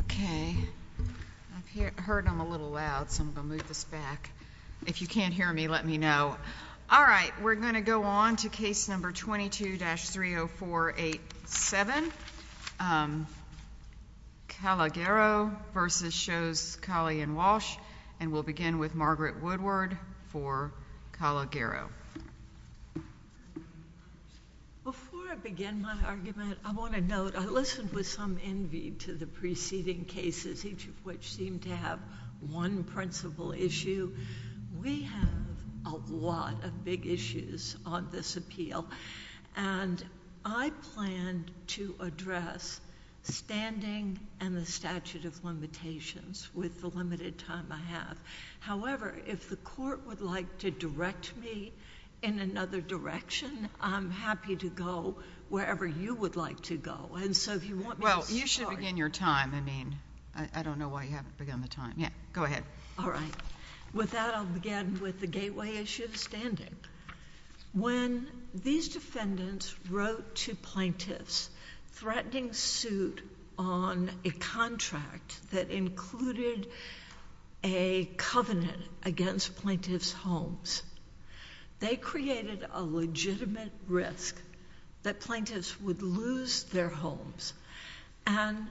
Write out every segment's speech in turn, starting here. Okay, I've heard them a little loud, so I'm going to move this back. If you can't hear me, let me know. All right, we're going to go on to case number 22-30487, Calogero v. Shows, Cali & Walsh, and we'll begin with Margaret Woodward for Calogero. Before I begin my argument, I want to note I listened with some envy to the preceding cases, each of which seemed to have one principal issue. We have a lot of big issues on this appeal, and I plan to address standing and the statute of limitations with the limited time I have. However, if the Court would like to direct me in another direction, I'm happy to go wherever you would like to go. And so if you want me to start— Well, you should begin your time. I mean, I don't know why you haven't begun the time. Yeah, go ahead. All right. With that, I'll begin with the gateway issue of standing. When these defendants wrote to plaintiffs threatening suit on a contract that included a covenant against plaintiffs' homes, they created a legitimate risk that plaintiffs would lose their homes, and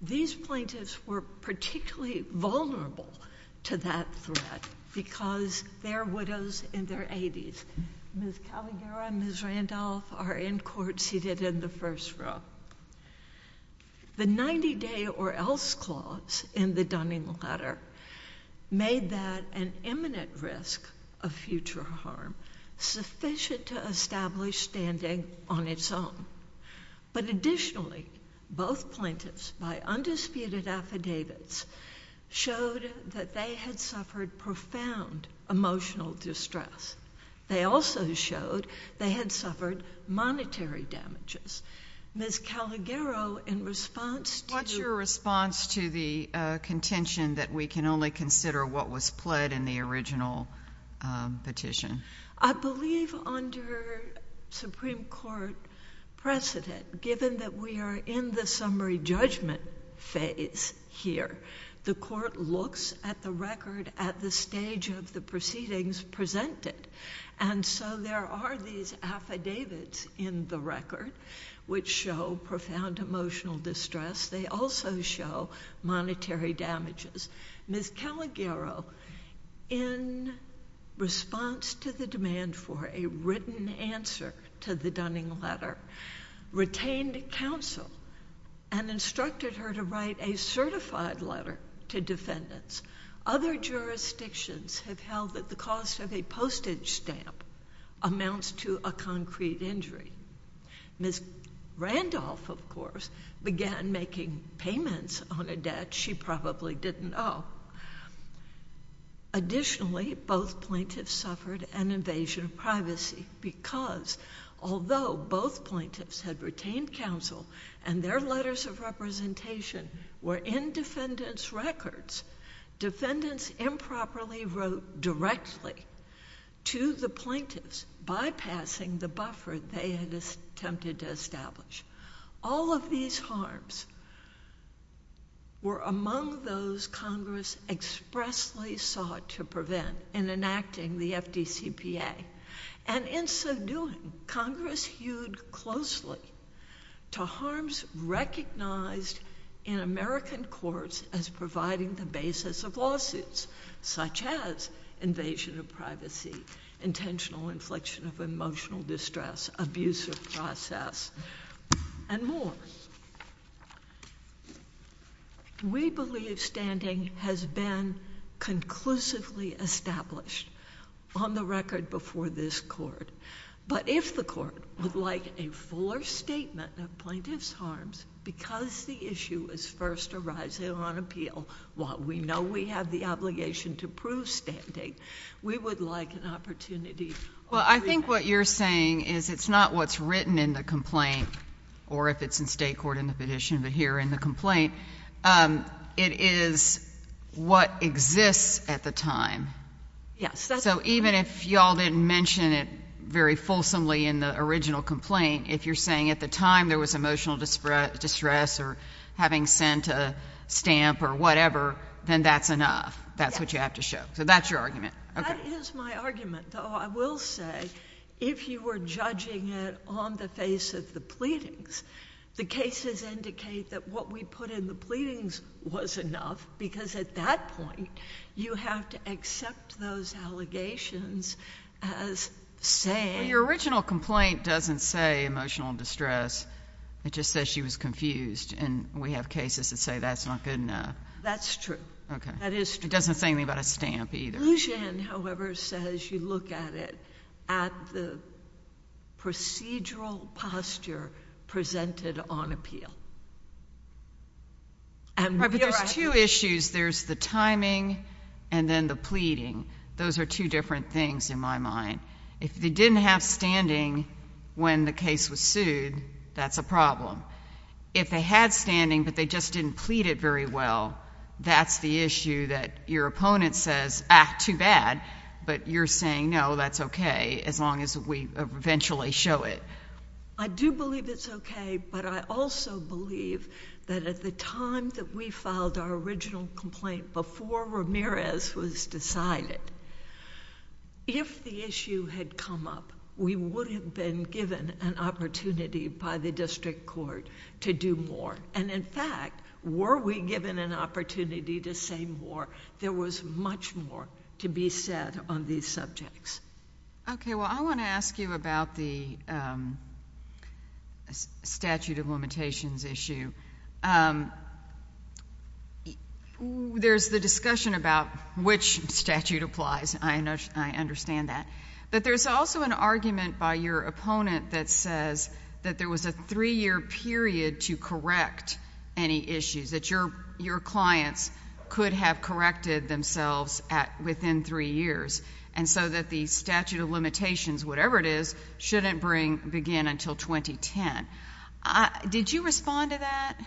these plaintiffs were particularly vulnerable to that threat because they're widows in their 80s. Ms. Calogero and Ms. Randolph are in court seated in the first row. The 90-day or else clause in the Dunning letter made that an imminent risk of future harm sufficient to establish standing on its own. But additionally, both plaintiffs by undisputed affidavits showed that they had suffered profound emotional distress. They also showed they had suffered monetary damages. Ms. Calogero, in response to— What's your response to the contention that we can only consider what was pled in the original petition? I believe under Supreme Court precedent, given that we are in the summary judgment phase here, the court looks at the record at the stage of the proceedings presented. There are these affidavits in the record which show profound emotional distress. They also show monetary damages. Ms. Calogero, in response to the demand for a written answer to the Dunning letter, retained counsel and instructed her to write a certified letter to defendants. Other jurisdictions have held that the cost of a postage stamp amounts to a concrete injury. Ms. Randolph, of course, began making payments on a debt she probably didn't owe. Additionally, both plaintiffs suffered an invasion of privacy because although both plaintiffs had retained counsel and their letters of representation were in defendants' records, defendants improperly wrote directly to the plaintiffs, bypassing the buffer they had attempted to establish. All of these harms were among those Congress expressly sought to prevent in enacting the FDCPA. And in so doing, Congress hewed closely to harms recognized in American courts as providing the basis of lawsuits, such as invasion of privacy, intentional inflection of emotional distress, abuse of process, and more. We believe standing has been conclusively established on the record before this Court. But if the Court would like a fuller statement of plaintiffs' harms, because the issue is first arising on appeal, while we know we have the obligation to prove standing, we would like an opportunity. Well, I think what you're saying is it's not what's written in the complaint, or if it's in state court in the petition, but here in the complaint, it is what exists at the time. Yes. So even if you all didn't mention it very fulsomely in the original complaint, if you're saying at the time there was emotional distress or having sent a stamp or whatever, then that's enough. That's what you have to show. So that's your argument. Okay. That is my argument, though I will say, if you were judging it on the face of the pleadings, the cases indicate that what we put in the pleadings was enough, because at that point you have to accept those allegations as saying — Well, your original complaint doesn't say emotional distress. It just says she was confused, and we have cases that say that's not good enough. That's true. Okay. That is true. It doesn't say anything about a stamp either. Luzhin, however, says you look at it at the procedural posture presented on appeal. Right, but there's two issues. There's the timing and then the pleading. Those are two different things in my mind. If they didn't have standing when the case was sued, that's a problem. If they had standing, but they just didn't plead it very well, that's the issue that your opponent says, ah, too bad, but you're saying, no, that's okay, as long as we eventually show it. I do believe it's okay, but I also believe that at the time that we filed our original complaint, before Ramirez was decided, if the issue had come up, we would have been given an opportunity by the district court to do more. In fact, were we given an opportunity to say more, there was much more to be said on these subjects. Okay. Well, I want to ask you about the statute of limitations issue. There's the discussion about which statute applies. I understand that. But there's also an argument by your opponent that says that there was a three-year period to correct any issues, that your clients could have corrected themselves within three years, and so that the statute of limitations, whatever it is, shouldn't begin until 2010. Did you respond to that?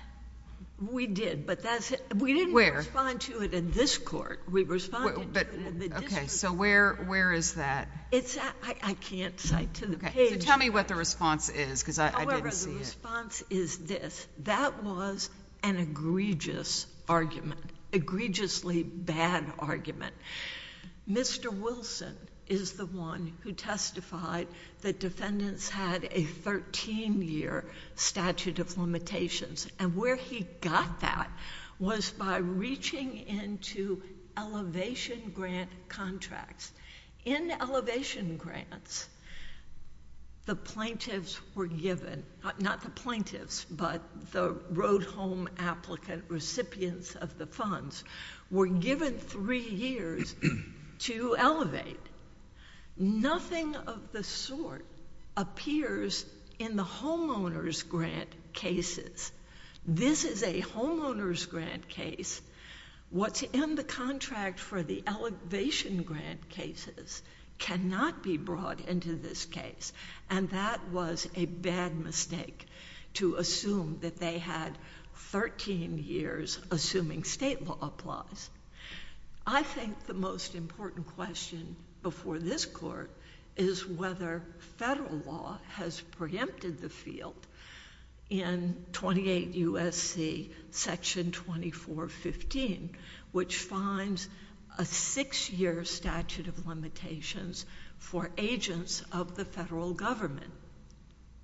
We did, but that's it. Where? We didn't respond to it in this court. Okay, so where is that? I can't cite to the page. Tell me what the response is, because I didn't see it. However, the response is this. That was an egregious argument, egregiously bad argument. Mr. Wilson is the one who testified that defendants had a thirteen-year statute of limitations, and where he got that was by reaching into elevation grant contracts. In elevation grants, the plaintiffs were given... not the plaintiffs, but the road home applicant recipients of the funds were given three years to elevate. Nothing of the sort appears in the homeowner's grant cases. This is a homeowner's grant case. What's in the contract for the elevation grant cases cannot be brought into this case, and that was a bad mistake to assume that they had thirteen years, assuming state law applies. I think the most important question before this court is whether federal law has preempted the field in 28 U.S.C. Section 2415, which finds a six-year statute of limitations for agents of the federal government,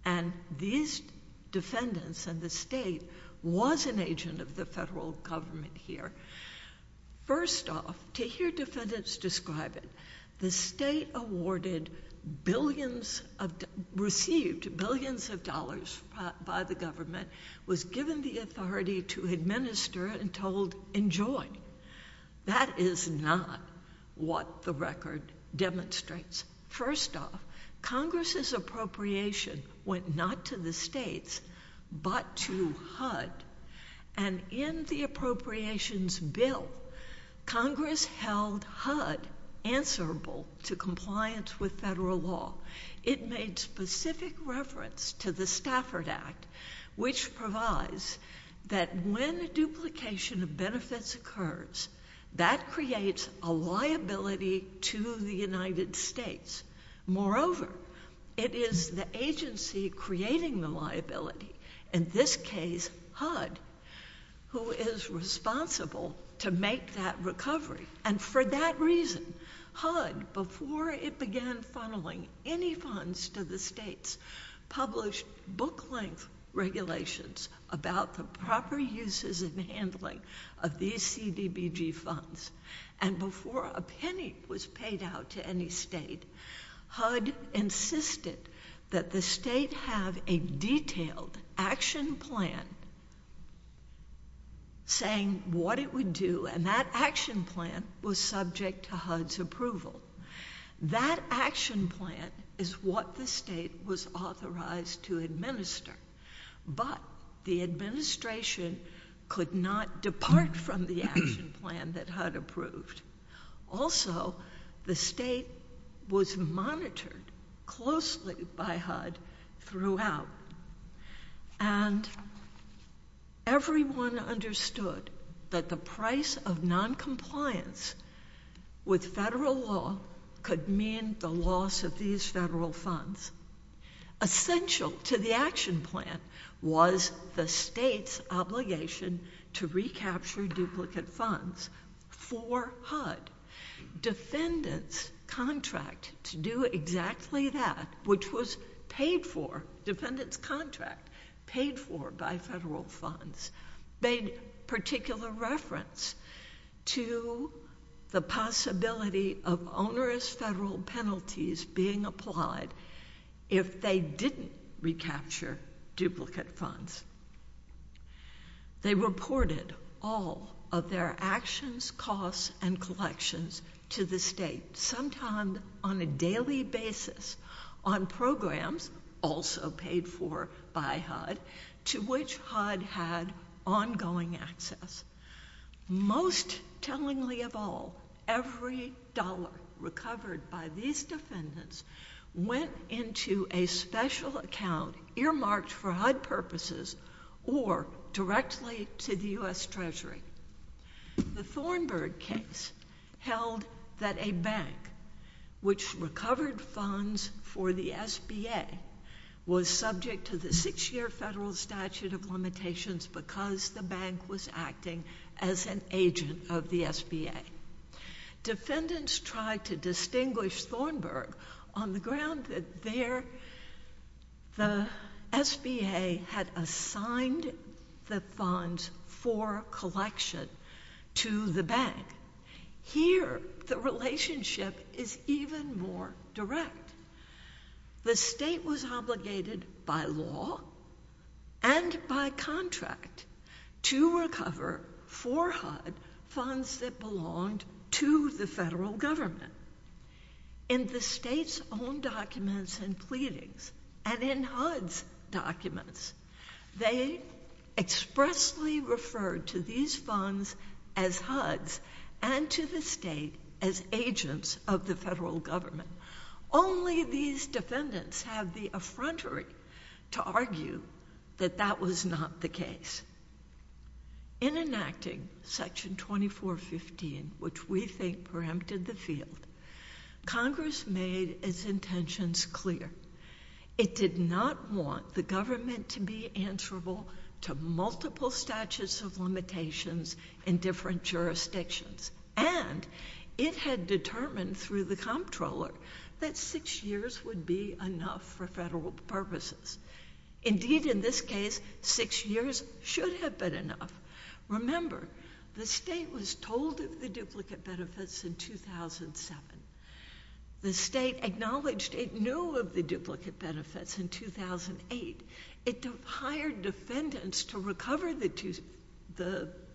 and these defendants and the state was an agent of the First off, to hear defendants describe it, the state received billions of dollars by the government, was given the authority to administer, and told, enjoy. That is not what the record demonstrates. First off, Congress's appropriation went not to the states, but to HUD, and in the Congress held HUD answerable to compliance with federal law. It made specific reference to the Stafford Act, which provides that when duplication of benefits occurs, that creates a liability to the United States. Moreover, it is the agency creating the liability, in this case HUD, who is responsible to make that recovery, and for that reason, HUD, before it began funneling any funds to the states, published book-length regulations about the proper uses and handling of these CBBG funds, and before a penny was paid out to any state, HUD insisted that the state have a detailed action plan saying what it would do, and that action plan was subject to HUD's approval. That action plan is what the state was authorized to administer, but the administration could not depart from the action plan that HUD approved. Also, the state was monitored closely by HUD throughout, and everyone understood that the price of noncompliance with federal law could mean the loss of these federal funds. Essential to the action plan was the state's obligation to recapture duplicate funds for HUD. Defendant's contract to do exactly that, which was paid for, defendant's contract paid for by federal funds, made particular reference to the possibility of onerous federal penalties being applied if they didn't recapture duplicate funds. They reported all of their actions, costs, and collections to the state, sometimes on a daily basis, on programs, also paid for by HUD, to which HUD had ongoing access. Most tellingly of all, every dollar recovered by these defendants went into a special account earmarked for HUD purposes or directly to the U.S. Treasury. The Thornburg case held that a bank which recovered funds for the SBA was subject to the six-year federal statute of limitations because the bank was acting as an agent of the SBA. Defendants tried to distinguish Thornburg on the ground that the SBA had assigned the funds for collection to the bank. Here, the relationship is even more direct. The state was obligated by law and by contract to recover for HUD funds that belonged to the federal government. In the state's own documents and pleadings, and in HUD's documents, they expressly referred to these funds as HUD's and to the state as agents of the federal government. Only these defendants have the effrontery to argue that that was not the case. In enacting Section 2415, which we think preempted the field, Congress made its intentions clear. It did not want the government to be answerable to multiple statutes of limitations in different jurisdictions, and it had determined through the comptroller that six years would be enough for federal purposes. Indeed, in this case, six years should have been enough. Remember, the state was told of the duplicate benefits in 2007. The state acknowledged it knew of the duplicate benefits in 2008. It hired defendants to recover the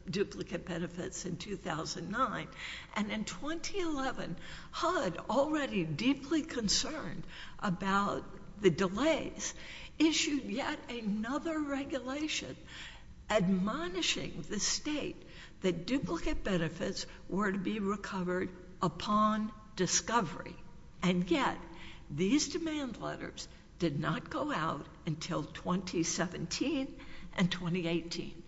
duplicate benefits in 2009, and in 2011, HUD, already deeply concerned about the delays, issued yet another regulation admonishing the state that duplicate benefits were to be recovered upon discovery. And yet, these demand letters did not go out until 2017 and 2018.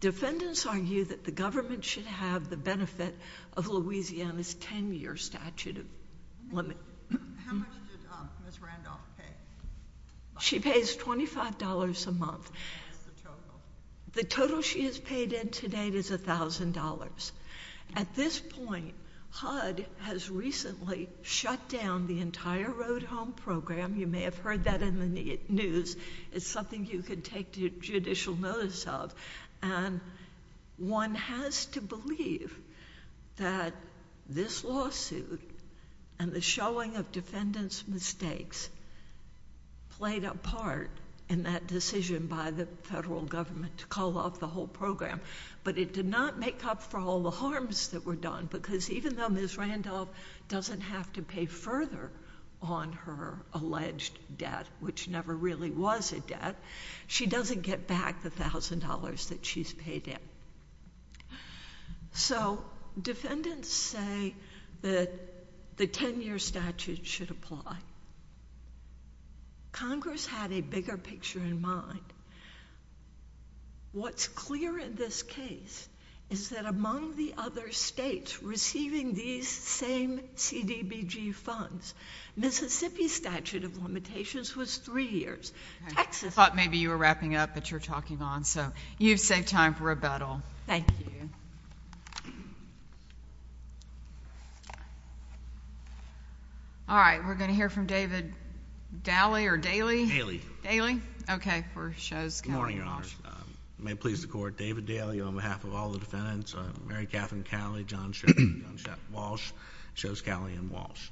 Defendants argue that the government should have the benefit of Louisiana's 10-year statute of limit. How much did Ms. Randolph pay? She pays $25 a month. What's the total? The total she has paid in to date is $1,000. At this point, HUD has recently shut down the entire Road Home Program. You may have heard that in the news. It's something you could take judicial notice of, and one has to believe that this lawsuit and the showing of defendants' mistakes played a part in that decision by the federal government to call off the whole program, but it did not make up for all the harms that were done, because even though Ms. Randolph doesn't have to pay further on her alleged debt, which never really was a debt, she doesn't get back the $1,000 that she's paid in. So defendants say that the 10-year statute should apply. Congress had a bigger picture in mind. What's clear in this case is that among the other states receiving these same CDBG funds, Mississippi's statute of limitations was three years. I thought maybe you were wrapping up, but you're talking on, so you've saved time for rebuttal. Thank you. All right. We're going to hear from David Daly or Daly? Daly. Daly? Okay. Good morning, Your Honor. It may please the Court. David Daly, on behalf of all the defendants. Mary Catherine Daly, John Shetty, John Shetty Walsh, Shows Daly and Walsh.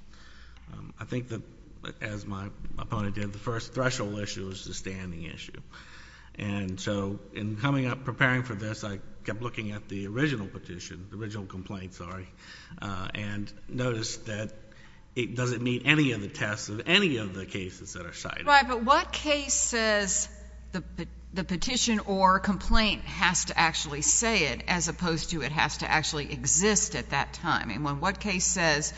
I think that, as my opponent did, the first threshold issue is the standing issue. And so in coming up, preparing for this, I kept looking at the original petition, the original complaint, sorry, and noticed that it doesn't meet any of the tests of any of the cases that are cited. Right. But what case says the petition or complaint has to actually say it as opposed to it has to actually exist at that time? I mean, what case says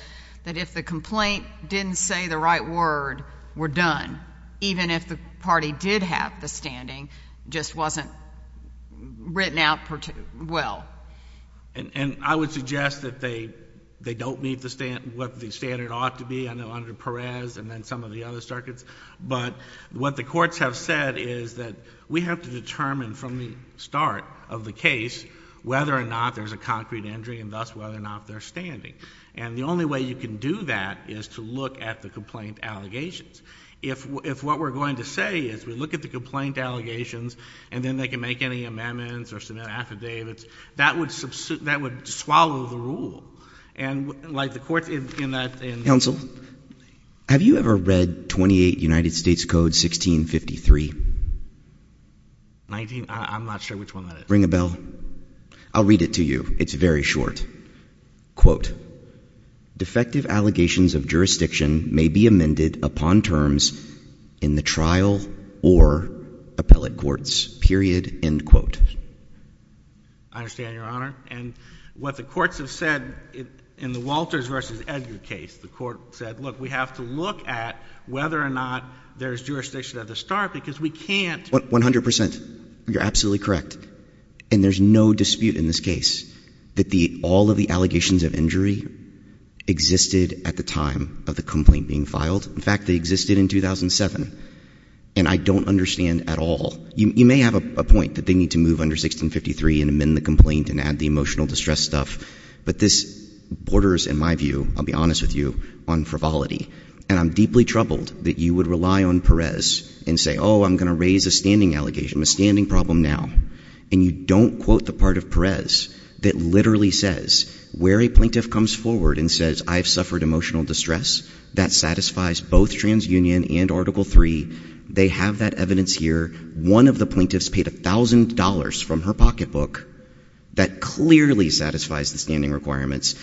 that if the complaint didn't say the right word, we're done, even if the party did have the standing, just wasn't written out well? And I would suggest that they don't meet what the standard ought to be. I know under Perez and then some of the other circuits. But what the courts have said is that we have to determine from the start of the case whether or not there's a concrete injury and thus whether or not they're standing. And the only way you can do that is to look at the complaint allegations. If what we're going to say is we look at the complaint allegations and then they can make any amendments or submit affidavits, that would swallow the rule. And like the courts in that. Counsel, have you ever read 28 United States Code 1653? 19, I'm not sure which one that is. Ring a bell. I'll read it to you. It's very short. Quote, defective allegations of jurisdiction may be amended upon terms in the trial or appellate courts, period, end quote. I understand, Your Honor. And what the courts have said in the Walters v. Edgar case, the court said, look, we have to look at whether or not there's jurisdiction at the start because we can't. 100%. You're absolutely correct. And there's no dispute in this case that all of the allegations of injury existed at the time of the complaint being filed. In fact, they existed in 2007. And I don't understand at all. You may have a point that they need to move under 1653 and amend the complaint and add the emotional distress stuff, but this borders, in my view, I'll be honest with you, on frivolity. And I'm deeply troubled that you would rely on Perez and say, oh, I'm going to raise a standing allegation, a standing problem now. And you don't quote the part of Perez that literally says where a plaintiff comes forward and says, I've suffered emotional distress, that satisfies both TransUnion and Article III. They have that evidence here. One of the plaintiffs paid $1,000 from her pocketbook. That clearly satisfies the standing requirements.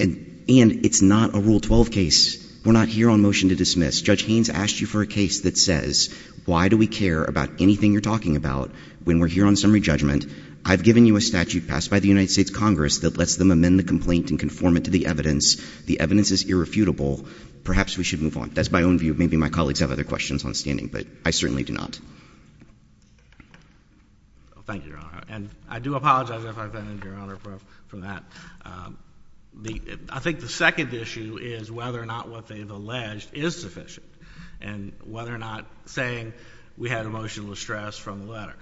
And it's not a Rule 12 case. We're not here on motion to dismiss. Judge Haynes asked you for a case that says, why do we care about anything you're talking about when we're here on summary judgment? I've given you a statute passed by the United States Congress that lets them amend the complaint and conform it to the evidence. The evidence is irrefutable. Perhaps we should move on. That's my own view. Maybe my colleagues have other questions on standing, but I certainly do not. Thank you, Your Honor. And I do apologize, Your Honor, for that. I think the second issue is whether or not what they've alleged is sufficient and whether or not saying we had emotional distress from the letter.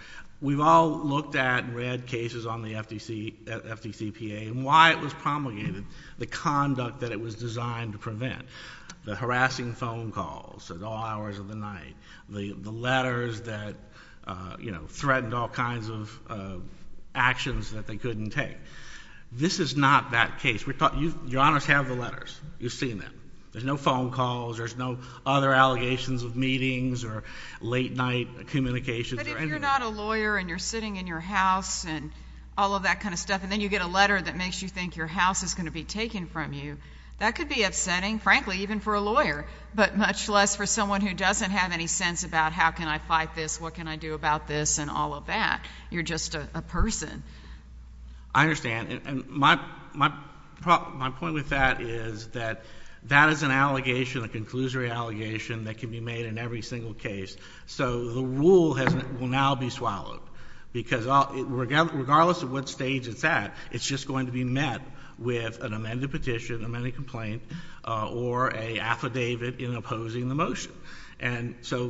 We've all looked at and read cases on the FDCPA and why it was promulgated, the conduct that it was designed to prevent, the harassing phone calls at all hours of the night, the letters that, you know, threatened all kinds of actions that they couldn't take. This is not that case. Your Honors have the letters. You've seen them. There's no phone calls. There's no other allegations of meetings or late-night communications or anything. But if you're not a lawyer and you're sitting in your house and all of that kind of stuff, and then you get a letter that makes you think your house is going to be taken from you, that could be upsetting, frankly, even for a lawyer, but much less for someone who doesn't have any sense about how can I fight this, what can I do about this, and all of that. You're just a person. I understand. And my point with that is that that is an allegation, a conclusory allegation, that can be made in every single case. So the rule will now be swallowed because regardless of what stage it's at, it's just going to be met with an amended petition, amended complaint, or an affidavit in opposing the motion. And so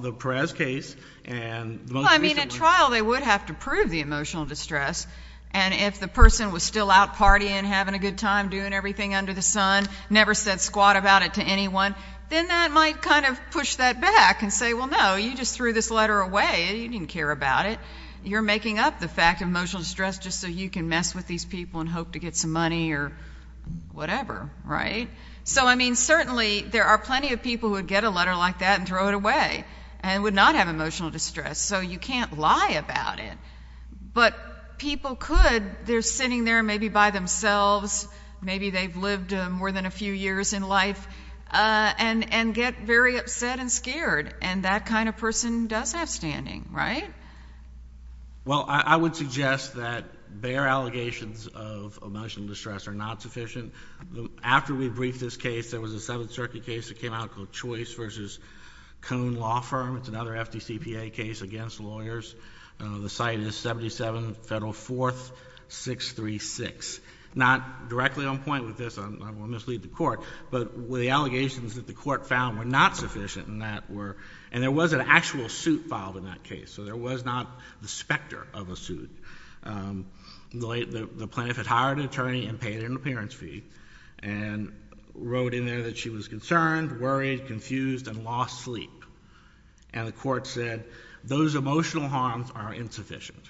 the Perez case and the most recent one. Well, I mean, at trial they would have to prove the emotional distress, and if the person was still out partying, having a good time, doing everything under the sun, never said squat about it to anyone, then that might kind of push that back and say, well, no, you just threw this letter away. You didn't care about it. You're making up the fact of emotional distress just so you can mess with these people and hope to get some money or whatever, right? So, I mean, certainly there are plenty of people who would get a letter like that and throw it away and would not have emotional distress, so you can't lie about it. But people could. They're sitting there maybe by themselves, maybe they've lived more than a few years in life, and get very upset and scared, and that kind of person does have standing, right? Well, I would suggest that bare allegations of emotional distress are not sufficient. After we briefed this case, there was a Seventh Circuit case that came out called Choice v. Cone Law Firm. It's another FDCPA case against lawyers. The site is 77 Federal 4th 636. Not directly on point with this, I will mislead the Court, but the allegations that the Court found were not sufficient, and there was an actual suit filed in that case, so there was not the specter of a suit. The plaintiff had hired an attorney and paid an appearance fee and wrote in there that she was concerned, worried, confused, and lost sleep. And the Court said, those emotional harms are insufficient.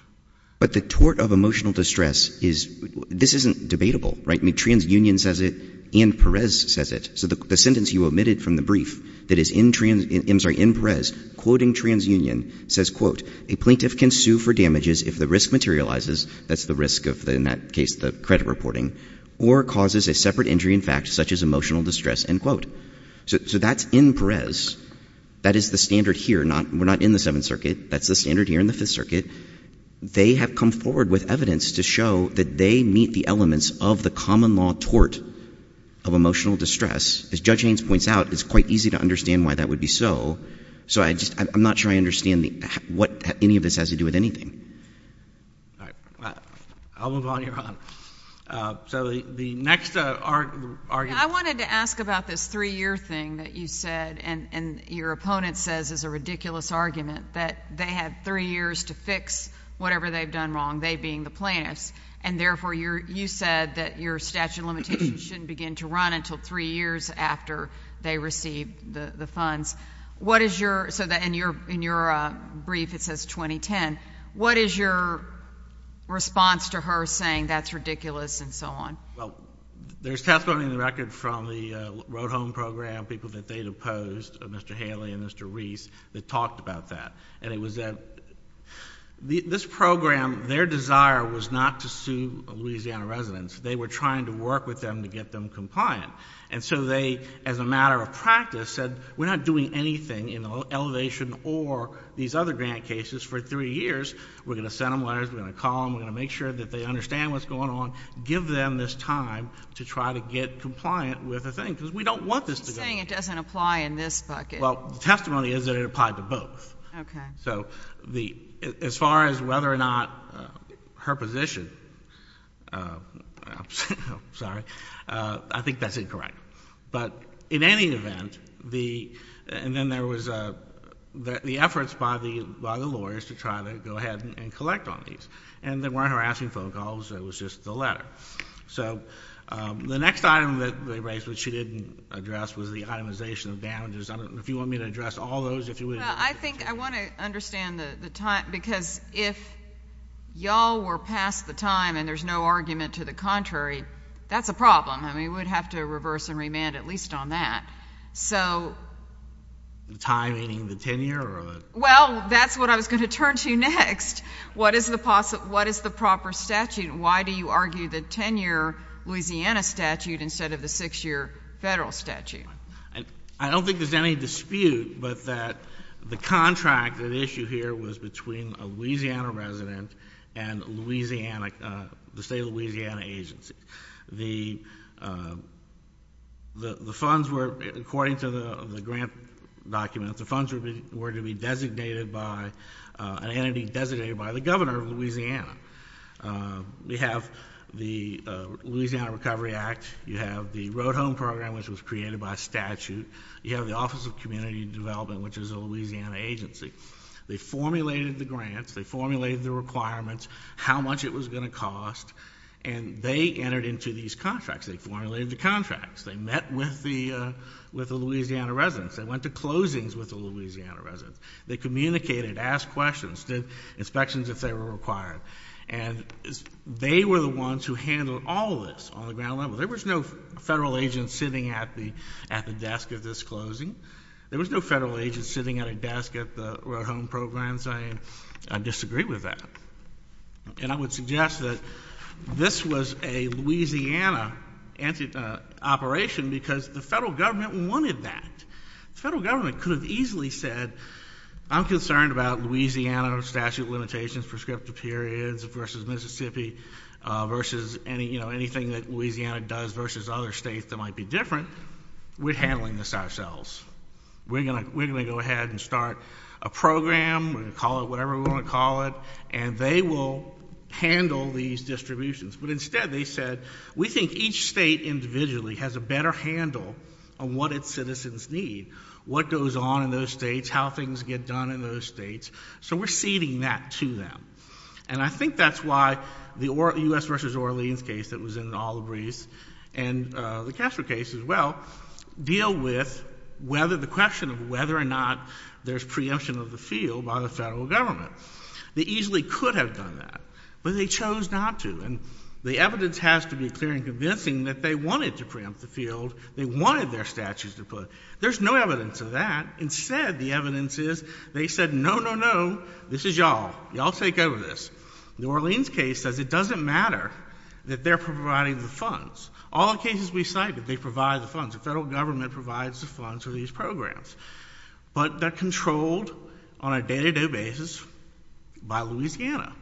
But the tort of emotional distress is, this isn't debatable, right? I mean, TransUnion says it and Perez says it. So the sentence you omitted from the brief that is in Perez, quoting TransUnion, says, quote, a plaintiff can sue for damages if the risk materializes, that's the risk of, in that case, the credit reporting, or causes a separate injury in fact such as emotional distress, end quote. So that's in Perez. That is the standard here. We're not in the Seventh Circuit. That's the standard here in the Fifth Circuit. They have come forward with evidence to show that they meet the elements of the common law tort of emotional distress. As Judge Haynes points out, it's quite easy to understand why that would be so. So I'm not sure I understand what any of this has to do with anything. All right. I'll move on. You're on. So the next argument. I wanted to ask about this three-year thing that you said and your opponent says is a ridiculous argument, that they had three years to fix whatever they've done wrong, they being the plaintiffs, and therefore you said that your statute of limitations shouldn't begin to run until three years after they receive the funds. So in your brief it says 2010. What is your response to her saying that's ridiculous and so on? Well, there's testimony on the record from the Road Home Program, people that they'd opposed, Mr. Haley and Mr. Reese, that talked about that. And it was that this program, their desire was not to sue Louisiana residents. They were trying to work with them to get them compliant. And so they, as a matter of practice, said, we're not doing anything in elevation or these other grant cases for three years. We're going to send them letters. We're going to call them. We're going to make sure that they understand what's going on, give them this time to try to get compliant with the thing because we don't want this to go on. She's saying it doesn't apply in this bucket. Well, the testimony is that it applied to both. Okay. So as far as whether or not her position, I'm sorry, I think that's incorrect. But in any event, and then there was the efforts by the lawyers to try to go ahead and collect on these. And there weren't harassing phone calls. It was just the letter. So the next item that they raised, which she didn't address, was the itemization of damages. I don't know if you want me to address all those. I think I want to understand the time because if y'all were past the time and there's no argument to the contrary, that's a problem. I mean, we'd have to reverse and remand at least on that. The time meaning the tenure? Well, that's what I was going to turn to next. What is the proper statute? Why do you argue the 10-year Louisiana statute instead of the six-year federal statute? I don't think there's any dispute but that the contract, the issue here, was between a Louisiana resident and the state of Louisiana agency. The funds were, according to the grant documents, the funds were to be designated by an entity designated by the governor of Louisiana. We have the Louisiana Recovery Act. You have the Road Home Program, which was created by statute. You have the Office of Community Development, which is a Louisiana agency. They formulated the grants. They formulated the requirements, how much it was going to cost. And they entered into these contracts. They formulated the contracts. They met with the Louisiana residents. They went to closings with the Louisiana residents. They communicated, asked questions, did inspections if they were required. And they were the ones who handled all of this on the ground level. There was no federal agent sitting at the desk at this closing. There was no federal agent sitting at a desk at the Road Home Program. So I disagree with that. And I would suggest that this was a Louisiana operation because the federal government wanted that. The federal government could have easily said, I'm concerned about Louisiana statute limitations, prescriptive periods, versus Mississippi, versus anything that Louisiana does, versus other states that might be different. We're handling this ourselves. We're going to go ahead and start a program. We're going to call it whatever we want to call it. And they will handle these distributions. But instead they said, we think each state individually has a better handle on what its citizens need, what goes on in those states, how things get done in those states. So we're ceding that to them. And I think that's why the U.S. v. Orleans case that was in the Olive Reefs and the Castro case as well deal with whether the question of whether or not there's preemption of the field by the federal government. They easily could have done that. But they chose not to. And the evidence has to be clear and convincing that they wanted to preempt the field. They wanted their statutes to put. There's no evidence of that. So y'all take over this. The Orleans case says it doesn't matter that they're providing the funds. All the cases we cited, they provide the funds. The federal government provides the funds for these programs. But they're controlled on a day-to-day basis by Louisiana.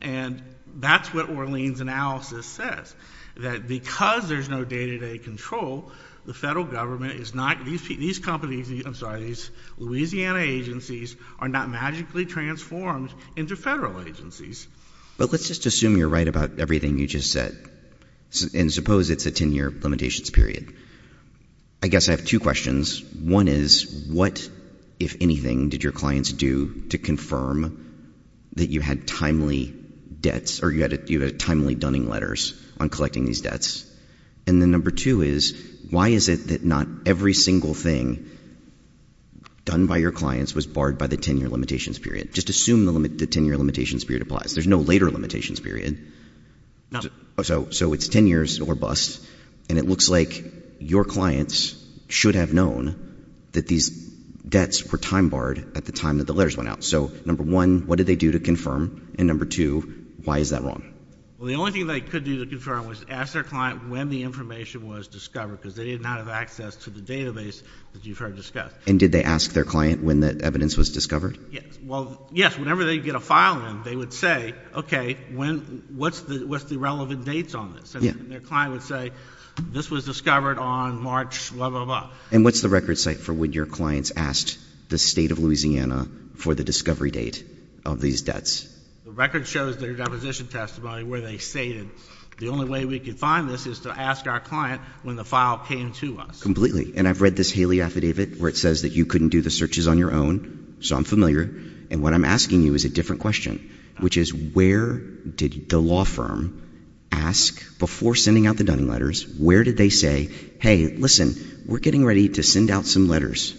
And that's what Orleans' analysis says, that because there's no day-to-day control, the federal government is not, these companies, I'm sorry, these Louisiana agencies are not magically transformed into federal agencies. But let's just assume you're right about everything you just said. And suppose it's a 10-year limitations period. I guess I have two questions. One is what, if anything, did your clients do to confirm that you had timely debts or you had timely dunning letters on collecting these debts? And then number two is why is it that not every single thing done by your clients was barred by the 10-year limitations period? Just assume the 10-year limitations period applies. There's no later limitations period. No. So it's 10 years or less. And it looks like your clients should have known that these debts were time-barred at the time that the letters went out. So number one, what did they do to confirm? And number two, why is that wrong? Well, the only thing they could do to confirm was ask their client when the information was discovered because they did not have access to the database that you've heard discussed. And did they ask their client when the evidence was discovered? Yes. Well, yes. Whenever they'd get a file in, they would say, okay, what's the relevant dates on this? And their client would say, this was discovered on March blah, blah, blah. And what's the record site for when your clients asked the State of Louisiana for the discovery date of these debts? The record shows their deposition testimony where they stated the only way we could find this is to ask our client when the file came to us. Completely. And I've read this Haley Affidavit where it says that you couldn't do the searches on your own, so I'm familiar, and what I'm asking you is a different question, which is where did the law firm ask before sending out the Dunning letters, where did they say, hey, listen, we're getting ready to send out some letters,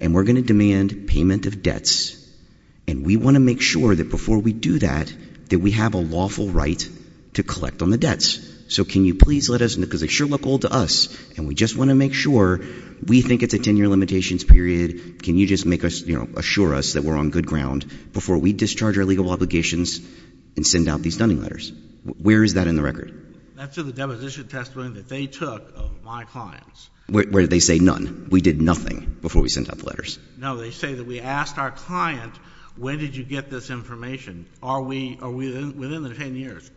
and we're going to demand payment of debts, and we want to make sure that before we do that that we have a lawful right to collect on the debts. So can you please let us, because they sure look old to us, and we just want to make sure we think it's a 10-year limitations period, can you just assure us that we're on good ground before we discharge our legal obligations and send out these Dunning letters? Where is that in the record? That's in the deposition testimony that they took of my clients. No, they say that we asked our client, when did you get this information? Are we within the 10 years?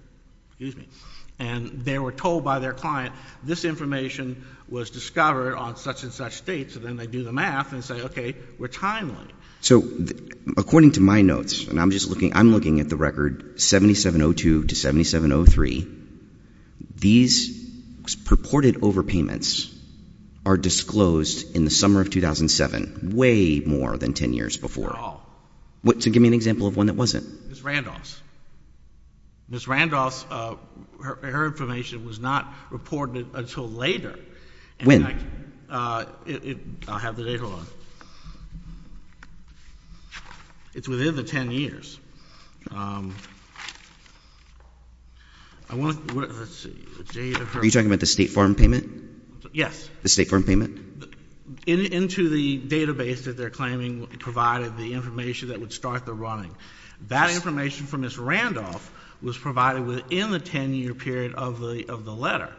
And they were told by their client this information was discovered on such and such dates, and then they do the math and say, okay, we're timely. So according to my notes, and I'm looking at the record, 7702 to 7703, these purported overpayments are disclosed in the summer of 2007, way more than 10 years before. At all. Give me an example of one that wasn't. Ms. Randolph's. Ms. Randolph's, her information was not reported until later. When? I'll have the data on it. It's within the 10 years. Are you talking about the State Farm payment? Yes. The State Farm payment? Into the database that they're claiming provided the information that would start the running. That information from Ms. Randolph was provided within the 10-year period of the letter.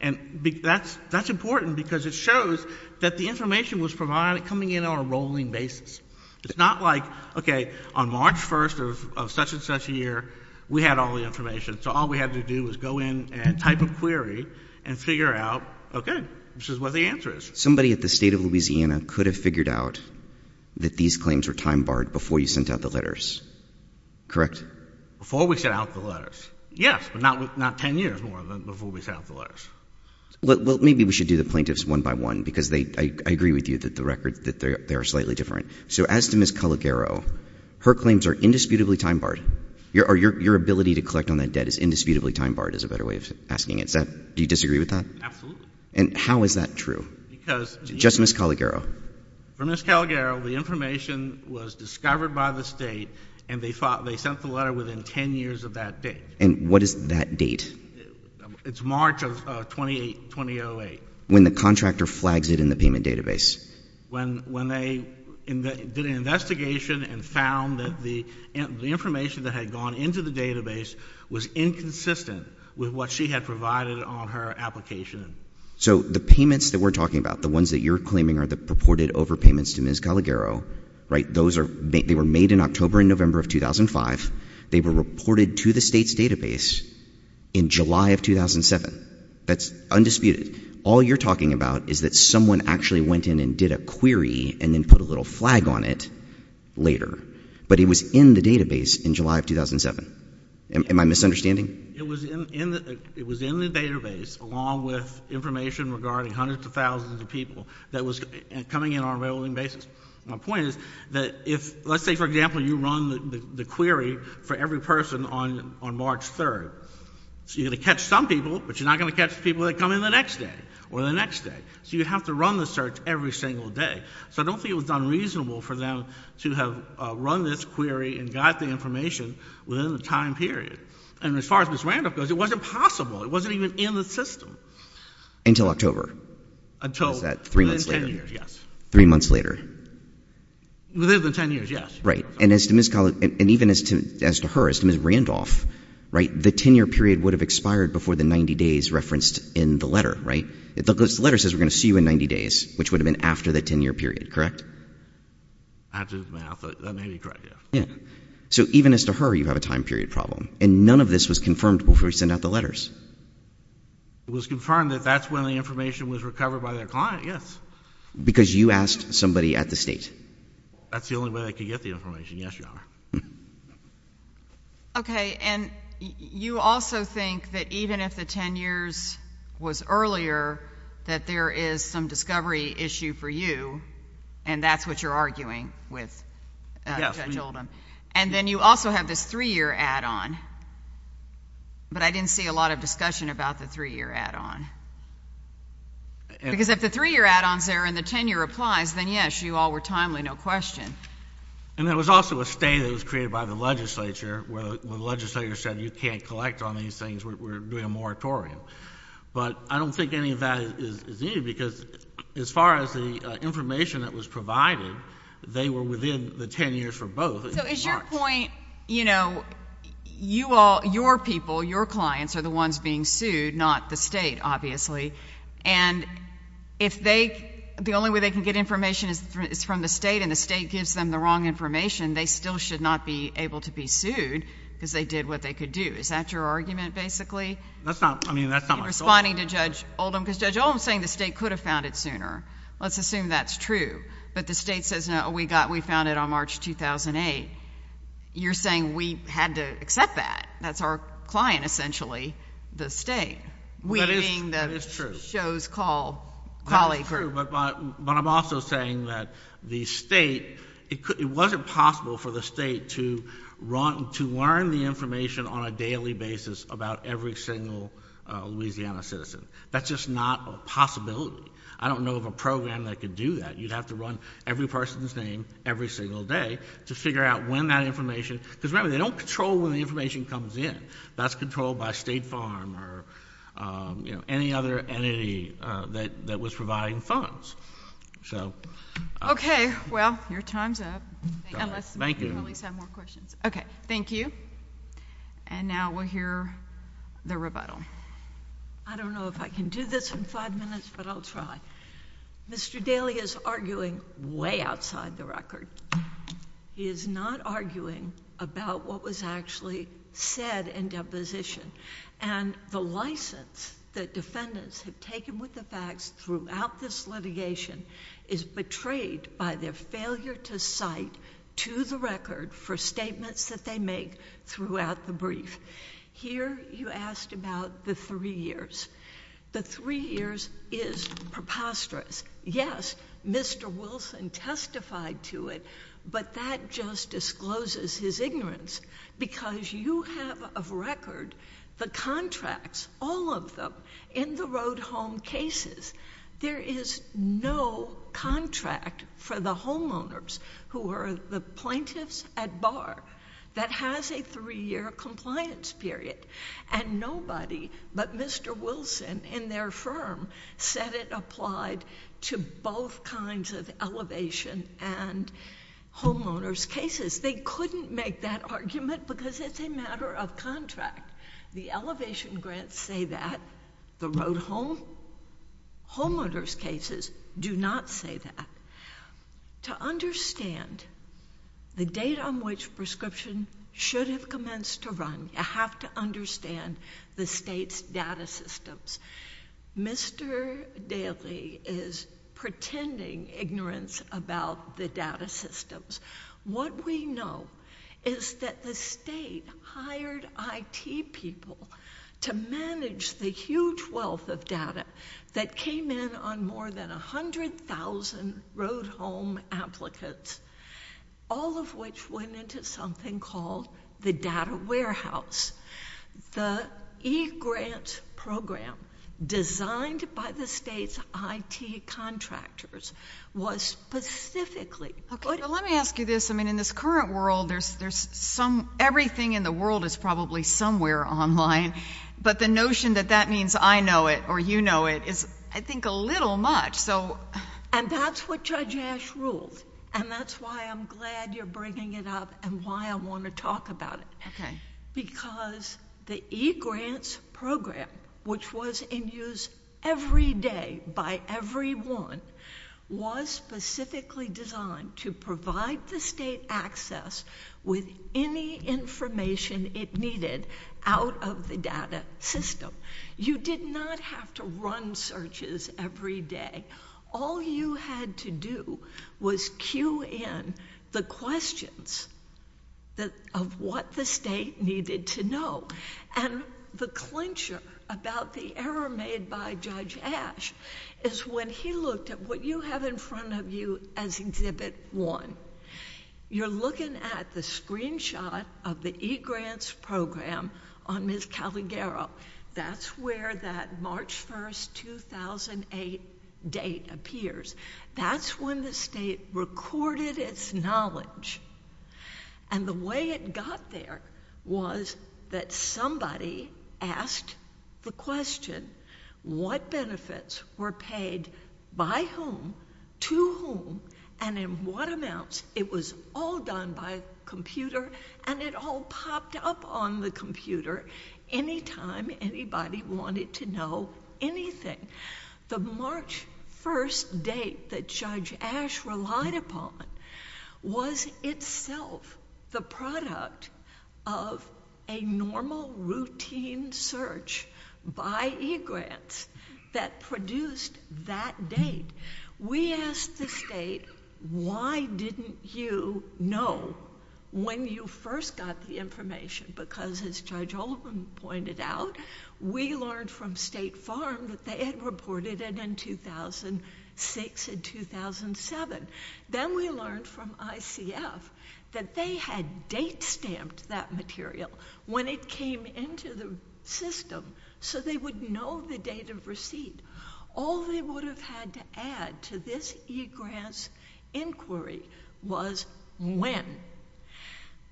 And that's important because it shows that the information was provided coming in on a rolling basis. It's not like, okay, on March 1st of such and such a year, we had all the information, so all we had to do was go in and type a query and figure out, okay, this is what the answer is. Somebody at the State of Louisiana could have figured out that these claims were time-barred before you sent out the letters, correct? Before we sent out the letters, yes, but not 10 years more than before we sent out the letters. Well, maybe we should do the plaintiffs one by one because I agree with you that the records, that they are slightly different. So as to Ms. Calagaro, her claims are indisputably time-barred. Your ability to collect on that debt is indisputably time-barred is a better way of asking it. Do you disagree with that? Absolutely. And how is that true? Just Ms. Calagaro. For Ms. Calagaro, the information was discovered by the State, and they sent the letter within 10 years of that date. And what is that date? It's March of 2008. When the contractor flags it in the payment database. When they did an investigation and found that the information that had gone into the database was inconsistent with what she had provided on her application. So the payments that we're talking about, the ones that you're claiming are the purported overpayments to Ms. Calagaro, they were made in October and November of 2005. They were reported to the State's database in July of 2007. That's undisputed. All you're talking about is that someone actually went in and did a query and then put a little flag on it later. But it was in the database in July of 2007. Am I misunderstanding? It was in the database along with information regarding hundreds of thousands of people that was coming in on a regular basis. My point is that if, let's say, for example, you run the query for every person on March 3rd. So you're going to catch some people, but you're not going to catch people that come in the next day or the next day. So you have to run the search every single day. So I don't think it was unreasonable for them to have run this query and got the information within the time period. And as far as Ms. Randolph goes, it wasn't possible. It wasn't even in the system. Until October. Until within 10 years, yes. Three months later. Within the 10 years, yes. Right. And even as to her, as to Ms. Randolph, the 10-year period would have expired before the 90 days referenced in the letter, right? Because the letter says we're going to see you in 90 days, which would have been after the 10-year period, correct? After the math, that may be correct, yes. Yeah. So even as to her, you have a time period problem. And none of this was confirmed before we sent out the letters. It was confirmed that that's when the information was recovered by their client, yes. Because you asked somebody at the State. That's the only way I could get the information, yes, Your Honor. Okay. And you also think that even if the 10 years was earlier, that there is some discovery issue for you, and that's what you're arguing with Judge Oldham. And then you also have this three-year add-on. But I didn't see a lot of discussion about the three-year add-on. Because if the three-year add-ons there and the 10-year applies, then, yes, you all were timely, no question. And there was also a state that was created by the legislature where the legislature said you can't collect on these things, we're doing a moratorium. But I don't think any of that is needed because as far as the information that was provided, they were within the 10 years for both. So is your point, you know, you all, your people, your clients are the ones being sued, not the State, obviously. And if they, the only way they can get information is from the State, and the State gives them the wrong information, they still should not be able to be sued because they did what they could do. Is that your argument, basically? That's not, I mean, that's not my thought. Responding to Judge Oldham, because Judge Oldham is saying the State could have found it sooner. Let's assume that's true. But the State says, no, we found it on March 2008. You're saying we had to accept that. That's our client, essentially, the State. That is true. We being the show's callee group. But I'm also saying that the State, it wasn't possible for the State to learn the information on a daily basis about every single Louisiana citizen. That's just not a possibility. I don't know of a program that could do that. You'd have to run every person's name every single day to figure out when that information, because remember, they don't control when the information comes in. That's controlled by State Farm or, you know, any other entity that was providing funds. So. Okay. Well, your time's up. Thank you. Unless you probably have more questions. Okay. Thank you. And now we'll hear the rebuttal. I don't know if I can do this in five minutes, but I'll try. Mr. Daley is arguing way outside the record. He is not arguing about what was actually said in deposition. And the license that defendants have taken with the facts throughout this litigation is betrayed by their failure to cite to the record for statements that they make throughout the brief. Here you asked about the three years. The three years is preposterous. Yes, Mr. Wilson testified to it, but that just discloses his ignorance, because you have a record, the contracts, all of them, in the road home cases. There is no contract for the homeowners who are the plaintiffs at bar that has a three-year compliance period. And nobody but Mr. Wilson and their firm said it applied to both kinds of elevation and homeowners' cases. They couldn't make that argument because it's a matter of contract. The elevation grants say that, the road home, homeowners' cases do not say that. To understand the date on which prescription should have commenced to run, you have to understand the state's data systems. Mr. Daley is pretending ignorance about the data systems. What we know is that the state hired IT people to manage the huge wealth of data that came in on more than 100,000 road home applicants, all of which went into something called the data warehouse. The e-grant program designed by the state's IT contractors was specifically— Well, let me ask you this. I mean, in this current world, everything in the world is probably somewhere online, but the notion that that means I know it or you know it is, I think, a little much. And that's what Judge Ash ruled, and that's why I'm glad you're bringing it up and why I want to talk about it. Because the e-grants program, which was in use every day by everyone, was specifically designed to provide the state access with any information it needed out of the data system. You did not have to run searches every day. All you had to do was cue in the questions of what the state needed to know. And the clincher about the error made by Judge Ash is when he looked at what you have in front of you as Exhibit 1. You're looking at the screenshot of the e-grants program on Ms. Calagaro. That's where that March 1, 2008 date appears. That's when the state recorded its knowledge. And the way it got there was that somebody asked the question, what benefits were paid by whom, to whom, and in what amounts? It was all done by computer, and it all popped up on the computer anytime anybody wanted to know anything. The March 1 date that Judge Ash relied upon was itself the product of a normal routine search by e-grants that produced that date. We asked the state, why didn't you know when you first got the information? Because, as Judge Oldham pointed out, we learned from State Farm that they had reported it in 2006 and 2007. Then we learned from ICF that they had date-stamped that material when it came into the system, so they would know the date of receipt. All they would have had to add to this e-grants inquiry was when.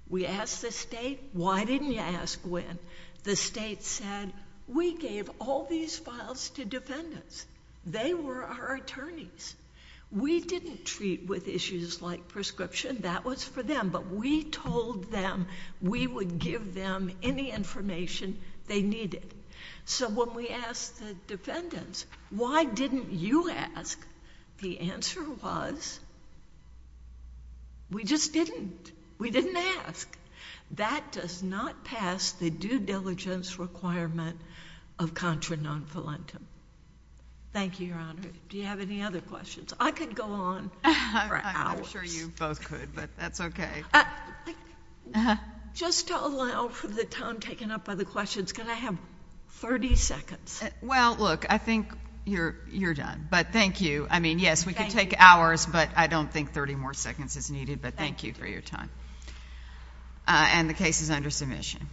We asked the state, why didn't you ask when? The state said, we gave all these files to defendants. They were our attorneys. We didn't treat with issues like prescription. That was for them, but we told them we would give them any information they needed. So when we asked the defendants, why didn't you ask? The answer was, we just didn't. We didn't ask. That does not pass the due diligence requirement of contra non voluntum. Thank you, Your Honor. Do you have any other questions? I could go on for hours. I'm sure you both could, but that's okay. Just to allow for the time taken up by the questions, can I have 30 seconds? Well, look, I think you're done, but thank you. I mean, yes, we could take hours, but I don't think 30 more seconds is needed, but thank you for your time. And the case is under submission.